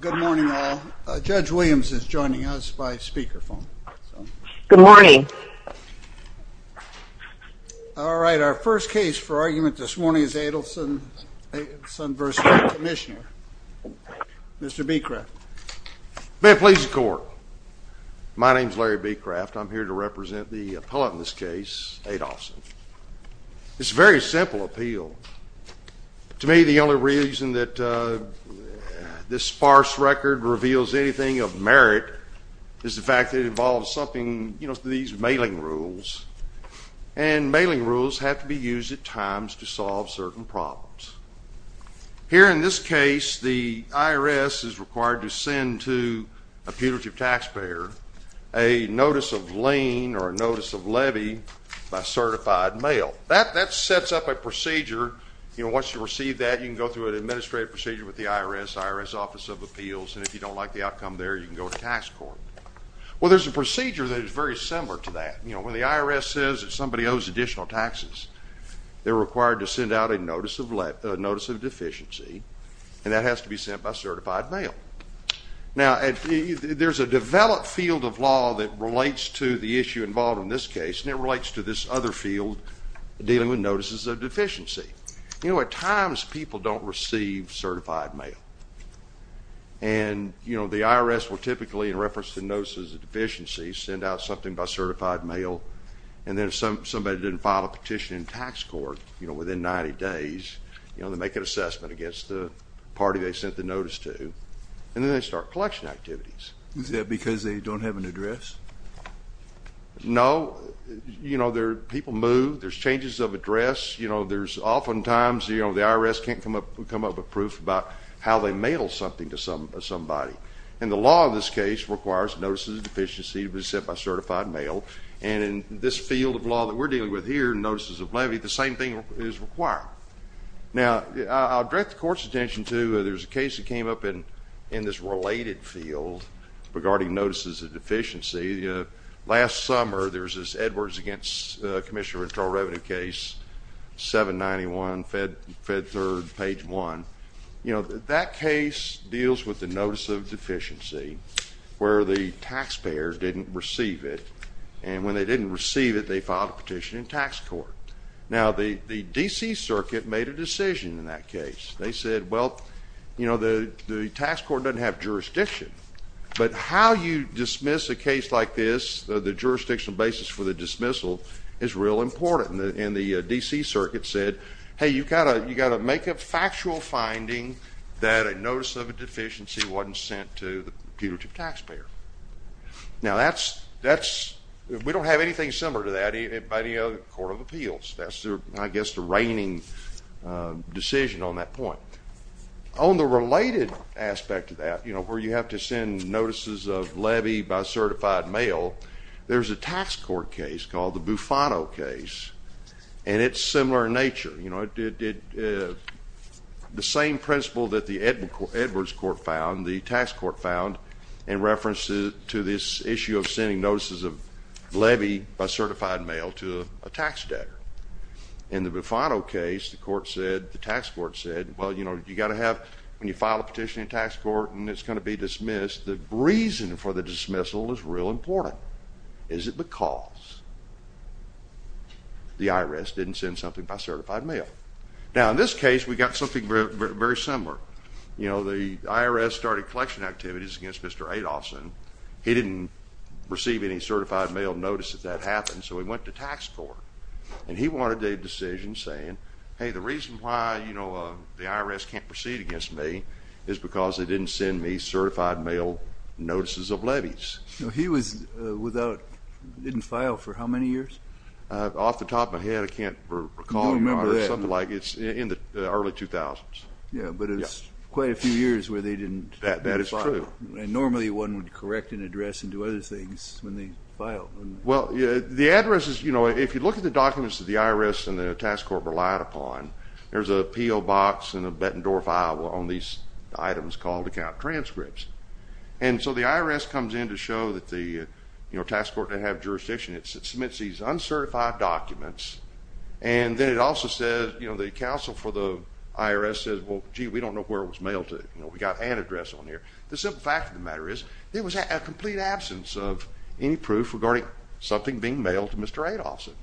Good morning all. Judge Williams is joining us by speakerphone. Good morning. All right, our first case for argument this morning is Adolphson v. Commissioner. Mr. Becraft. May it please the court. My name is Larry Becraft. I'm here to represent the appellate in this case, Adolphson. It's a very simple appeal. To me, the only reason that this sparse record reveals anything of merit is the fact that it involves something, you know, these mailing rules. And mailing rules have to be used at times to solve certain problems. Here in this case, the IRS is required to send to a putative taxpayer a notice of lien or a notice of levy by certified mail. That sets up a procedure, you know, once you receive that, you can go through an administrative procedure with the IRS, IRS Office of Appeals, and if you don't like the outcome there, you can go to tax court. Well, there's a procedure that is very similar to that. You know, when the IRS says that somebody owes additional taxes, they're required to send out a notice of deficiency, and that has to be sent by certified mail. Now, there's a developed field of law that relates to the issue involved in this case, and it relates to this other field dealing with notices of deficiency. You know, at times, people don't receive certified mail. And, you know, the IRS will typically, in reference to notices of deficiency, send out something by certified mail, and then if somebody didn't file a petition in tax court, you know, within 90 days, you know, they make an assessment against the party they sent the notice to, and then they start collection activities. Is that because they don't have an address? No. You know, people move. There's changes of address. You know, there's oftentimes, you know, the IRS can't come up with proof about how they mail something to somebody. And the law in this case requires notices of deficiency to be sent by certified mail, and in this field of law that we're dealing with here, notices of levy, the same thing is required. Now, I'll direct the court's attention to, there's a case that came up in this related field regarding notices of deficiency. You know, last summer, there was this Edwards against Commissioner of Internal Revenue case, 791, Fed Third, page 1. You know, that case deals with the notice of deficiency, where the taxpayer didn't receive it, and when they didn't receive it, they filed a petition in tax court. Now, the D.C. Circuit made a decision in that case. They said, well, you know, the tax court doesn't have jurisdiction, but how you dismiss a case like this, the jurisdictional basis for the dismissal is real important. And the D.C. Circuit said, hey, you've got to make a factual finding that a notice of a deficiency wasn't sent to the putative taxpayer. Now, that's, we don't have anything similar to that by any other court of appeals. That's, I guess, the reigning decision on that point. On the related aspect of that, you know, where you have to send notices of levy by certified mail, there's a tax court case called the Bufano case, and it's similar in nature. You know, it did the same principle that the Edwards court found, the tax court found, in reference to this issue of sending notices of levy by certified mail to a tax debtor in the Bufano case, the court said, the tax court said, well, you know, you've got to have, when you file a petition in tax court and it's going to be dismissed, the reason for the dismissal is real important. Is it because the IRS didn't send something by certified mail? Now, in this case, we've got something very similar. You know, the IRS started collection activities against Mr. Adolfson. He didn't receive any certified mail notices that happened, so he went to tax court, and he wanted a decision saying, hey, the reason why, you know, the IRS can't proceed against me is because they didn't send me certified mail notices of levies. He was without, didn't file for how many years? Off the top of my head, I can't recall, something like, it's in the early 2000s. Yeah, but it's quite a few years where they didn't. That is true. Normally one would correct an address and do other things when they file. Well, the address is, you know, if you look at the documents that the IRS and the tax court relied upon, there's a P.O. box and a Bettendorf file on these items called account transcripts, and so the IRS comes in to show that the, you know, tax court didn't have jurisdiction. It submits these uncertified documents, and then it also says, you know, the counsel for the IRS says, well, gee, we don't know where it was mailed to. You know, we got an address on here. The simple fact of the matter is, there was a complete absence of any proof regarding something being mailed to Mr. Adolfson.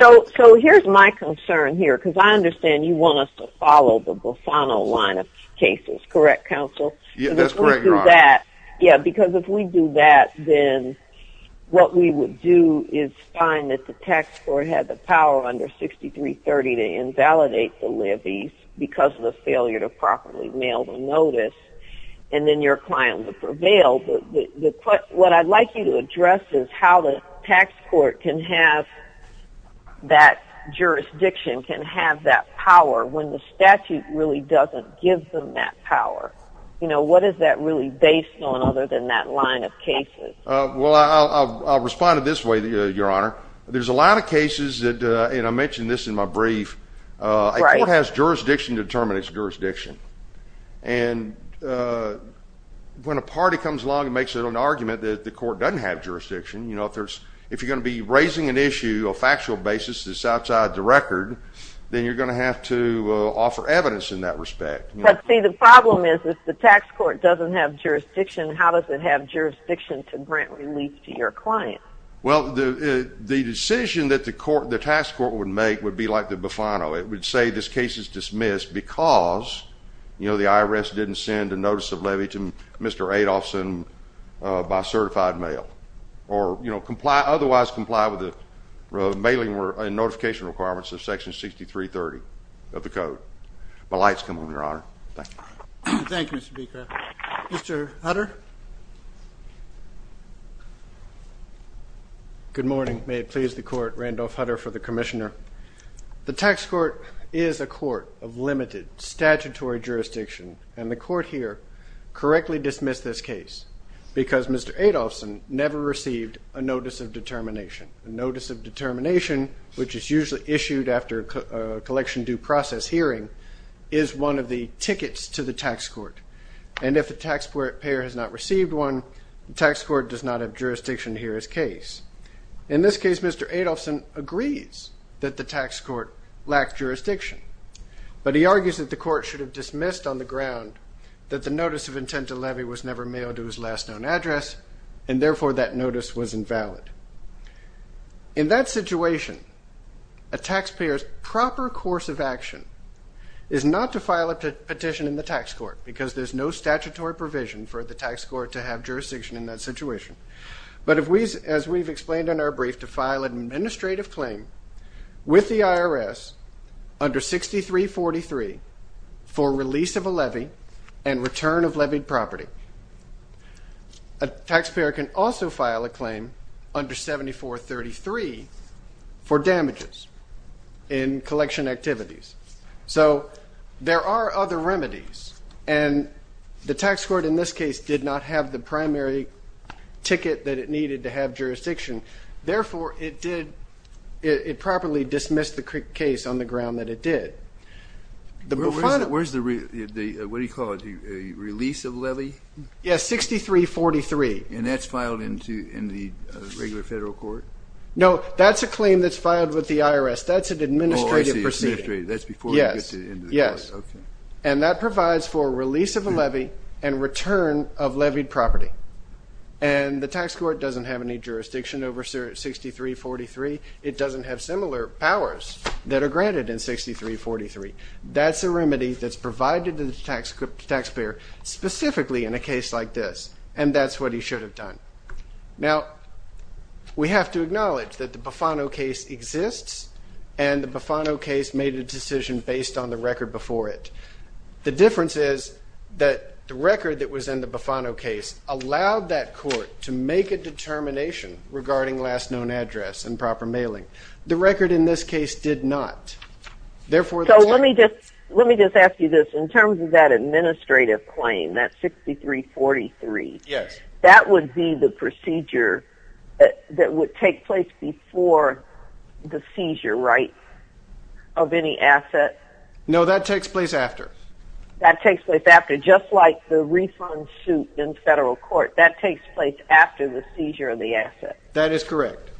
So here's my concern here, because I understand you want us to follow the Bufano line of cases, correct counsel? Yeah, that's correct. Yeah, because if we do that, then what we would do is find that the tax court had the power under 6330 to invalidate the levies because of the failure to properly mail the notice, and then your client would prevail. What I'd like you to address is how the tax court can have that jurisdiction, can have that power, when the statute really doesn't give them that power. You know, what is that really based on other than that line of cases? Well, I'll respond to this way, Your Honor. There's a lot of cases that, and I mentioned this in my brief, a court has jurisdiction to determine its jurisdiction. And when a party comes along and makes an argument that the court doesn't have jurisdiction, you know, if you're going to be raising an issue, a factual basis that's outside the record, then you're going to have to offer evidence in that respect. But see, the problem is, if the tax court doesn't have jurisdiction, how does it have jurisdiction to grant relief to your client? Well, the decision that the court, the tax court would make would be like the Bufano. It would say this case is dismissed because, you know, the IRS didn't send a notice of levy to Mr. Adolfson by certified mail. Or, you know, comply, otherwise comply with the mailing and notification requirements of section 6330 of the code. My light's come on, Mr. Hutter. Good morning. May it please the court, Randolph Hutter for the commissioner. The tax court is a court of limited statutory jurisdiction. And the court here correctly dismissed this case because Mr. Adolfson never received a notice of determination. A notice of determination, which is usually issued after a collection due process hearing, is one of the tickets to the hearing. And if the taxpayer has not received one, the tax court does not have jurisdiction to hear his case. In this case, Mr. Adolfson agrees that the tax court lacked jurisdiction. But he argues that the court should have dismissed on the ground that the notice of intent to levy was never mailed to his last known address, and therefore that notice was invalid. In that situation, a taxpayer's proper course of action is not to file a petition in the tax court because there's no statutory provision for the tax court to have jurisdiction in that situation, but as we've explained in our brief, to file an administrative claim with the IRS under 6343 for release of a levy and return of levied property. A taxpayer can also file a claim for damages in collection activities. So there are other remedies, and the tax court in this case did not have the primary ticket that it needed to have jurisdiction. Therefore, it properly dismissed the case on the ground that it did. Where's the, what do you call it, the release of levy? Yes, 6343. And that's filed in the regular federal court? No, that's a claim that's filed with the IRS. That's an administrative proceeding. Oh, I see, administrative. That's before he gets into the court. Yes, yes. And that provides for release of a levy and return of levied property. And the tax court doesn't have any jurisdiction over 6343. It doesn't have similar powers that are granted in 6343. That's a remedy that's provided to the taxpayer specifically in a case like this. And that's what he should have done. Now, we have to acknowledge that the Bufano case exists, and the Bufano case made a decision based on the record before it. The difference is that the record that was in the Bufano case allowed that court to make a determination regarding last known address and proper mailing. The record in this case did not. So let me just ask you this. In terms of that administrative claim, that 6343, that would be the procedure that would take place before the seizure, right, of any asset? No, that takes place after. That takes place after. Just like the refund suit in federal court, that takes place after the seizure of the asset. That is correct.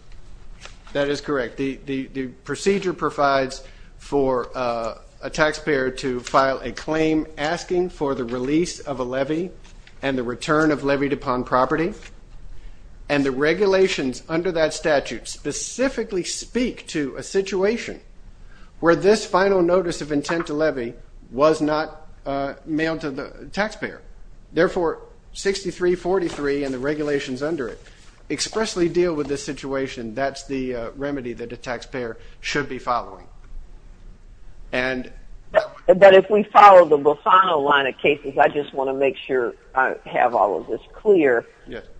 That is correct. The procedure provides for a taxpayer to file a claim asking for the release of a levy and the return of levied upon property. And the regulations under that statute specifically speak to a situation where this final notice of intent to levy was not mailed to the taxpayer. Therefore, 6343 and the regulations under it expressly deal with this situation. That's the remedy that a taxpayer should be following. But if we follow the Bufano line of cases, I just want to make sure I have all of this clear,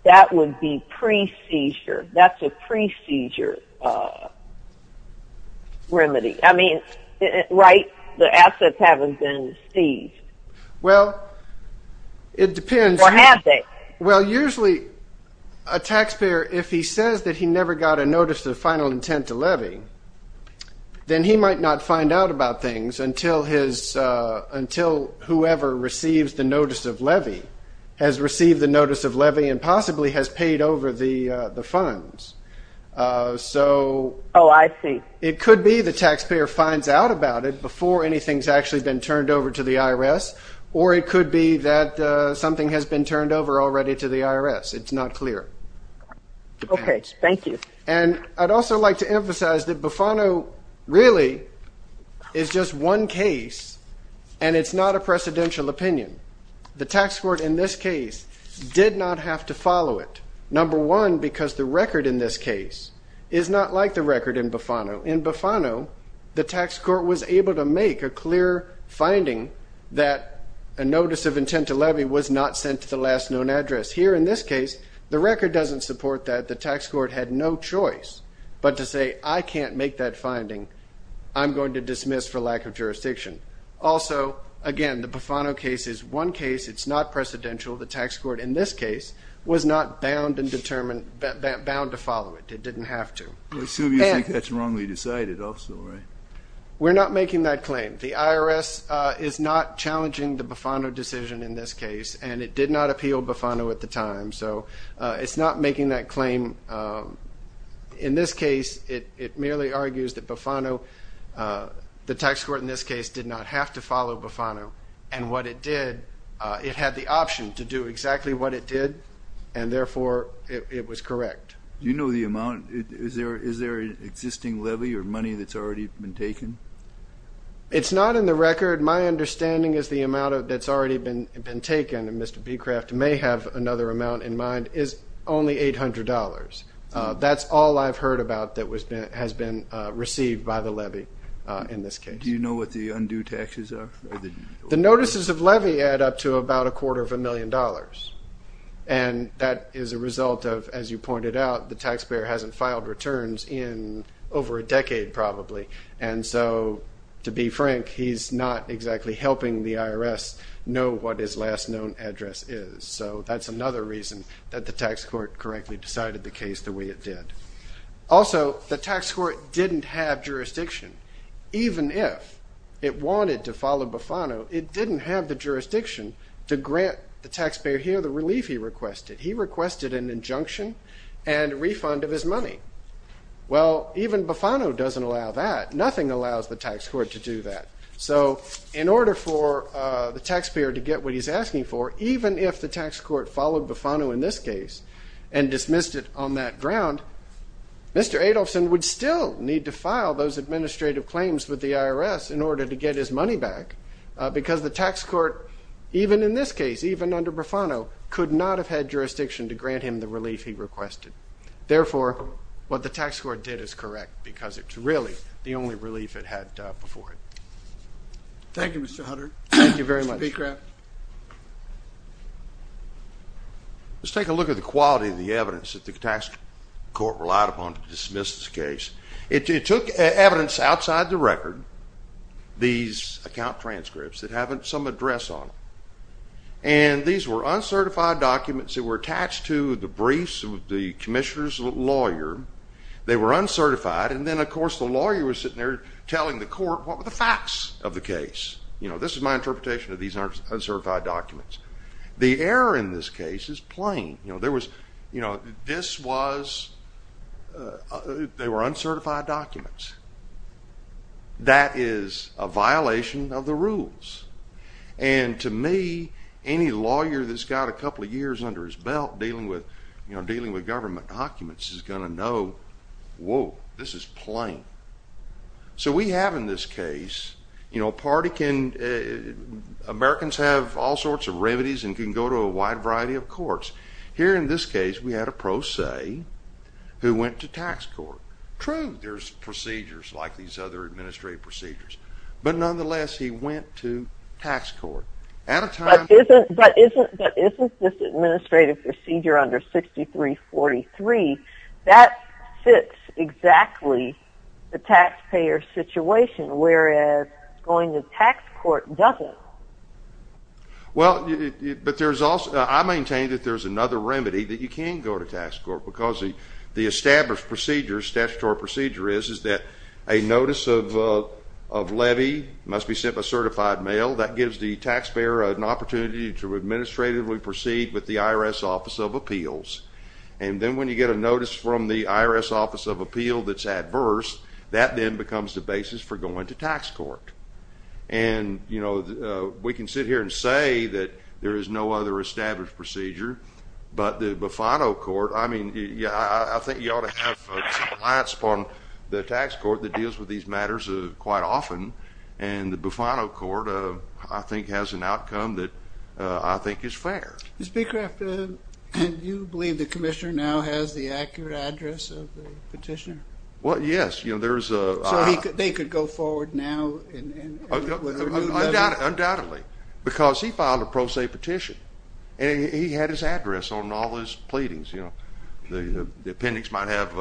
that would be pre-seizure. That's a pre-seizure remedy. I mean, right, the assets haven't been seized. Well, it depends. Or have they? Well, usually, a taxpayer, if he says that he never got a notice of final intent to levy, then he might not find out about things until whoever receives the notice of levy has received the notice of levy and possibly has paid over the funds. Oh, I see. It could be the taxpayer finds out about it before anything's actually been turned over to the IRS, or it could be that something has been turned over already to the IRS. It's not clear. Okay, thank you. And I'd also like to emphasize that Bufano really is just one case, and it's not a precedential opinion. The tax court in this case did not have to follow it. Number one, because the record in this case is not like the record in Bufano. In Bufano, the tax court was able to make a clear finding that a notice of intent to levy was not sent to the last known address. Here in this case, the record doesn't support that. The tax court had no choice. But to say, I can't make that finding, I'm going to dismiss for lack of jurisdiction. Also, again, the Bufano case is one case. It's not precedential. The tax court in this case was not bound and determined, bound to follow it. It didn't have to. I assume you think that's wrongly decided also, right? We're not making that claim. The IRS is not challenging the Bufano decision in this case, and it did not appeal Bufano at the time. It's not making that claim. In this case, it merely argues that Bufano, the tax court in this case, did not have to follow Bufano. And what it did, it had the option to do exactly what it did, and therefore it was correct. Do you know the amount? Is there an existing levy or money that's already been taken? It's not in the record. My understanding is the amount that's already been taken, and Mr. Becraft may have another amount in mind, is only $800. That's all I've heard about that has been received by the levy in this case. Do you know what the undue taxes are? The notices of levy add up to about a quarter of a million dollars. And that is a result of, as you pointed out, the taxpayer hasn't filed returns in over a decade probably. And so, to be frank, he's not exactly helping the IRS know what his last known address is. So that's another reason that the tax court correctly decided the case the way it did. Also, the tax court didn't have jurisdiction. Even if it wanted to follow Bufano, it didn't have the jurisdiction to grant the taxpayer here the relief he requested. He requested an injunction and refund of his money. Well, even Bufano doesn't allow that. Nothing allows the tax court to do that. So, in order for the taxpayer to get what he's asking for, even if the tax court followed Bufano in this case and dismissed it on that ground, Mr. Adolfson would still need to file those administrative claims with the IRS in order to get his money back. Because the tax court, even in this case, even under Bufano, could not have had jurisdiction to grant him the relief he requested. Therefore, what the tax court did is correct because it's really the only relief it had before it. Thank you, Mr. Hunter. Thank you very much. Mr. Pecraft. Let's take a look at the quality of the evidence that the tax court relied upon to dismiss this case. It took evidence outside the record, these account transcripts that have some address on them. And these were uncertified documents that were attached to the briefs of the commissioner's lawyer. They were uncertified. And then, of course, the lawyer was sitting there telling the court what were the facts of the case. You know, this is my interpretation of these uncertified documents. The error in this case is plain. You know, there was, you know, this was, they were uncertified documents. That is a violation of the rules. And to me, any lawyer that's got a couple of years under his belt dealing with, you know, dealing with government documents is going to know, whoa, this is plain. So we have in this case, you know, a party can, Americans have all sorts of remedies and can go to a wide variety of courts. Here in this case, we had a pro se who went to tax court. True, there's procedures like these other administrative procedures. But nonetheless, he went to tax court. But isn't this administrative procedure under 6343, that fits exactly the taxpayer situation, whereas going to tax court doesn't. Well, but there's also, I maintain that there's another remedy that you can go to tax court because the established procedure, statutory procedure is, is that a notice of levy must be sent by certified mail. That gives the taxpayer an opportunity to administratively proceed with the IRS Office of Appeals. And then when you get a notice from the IRS Office of Appeals that's adverse, that then becomes the basis for going to tax court. And, you know, we can sit here and say that there is no other established procedure, but the Bufano Court, I mean, yeah, I think you ought to have compliance upon the tax court that deals with these matters quite often. And the Bufano Court, I think, has an outcome that I think is fair. Mr. Becraft, do you believe the commissioner now has the accurate address of the petitioner? Well, yes, you know, there's a... So they could go forward now and... Undoubtedly, because he filed a pro se petition. And he had his address on all his pleadings, you know. The appendix might have,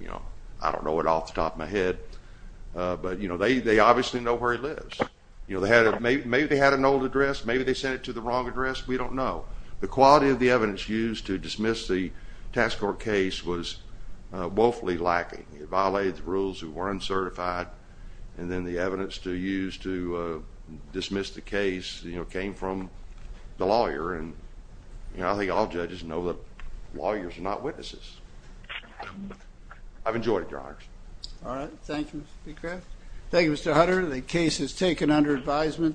you know, I don't know it off the top of my head. But, you know, they obviously know where he lives. You know, maybe they had an old address, maybe they sent it to the wrong address, we don't know. The quality of the evidence used to dismiss the tax court case was woefully lacking. It violated the rules, it weren't certified. And then the evidence to use to dismiss the case, you know, came from the lawyer. And, you know, I think all judges know that lawyers are not witnesses. I've enjoyed it, Your Honor. All right, thank you, Mr. Becraft. Thank you, Mr. Hutter. The case is taken under advisement.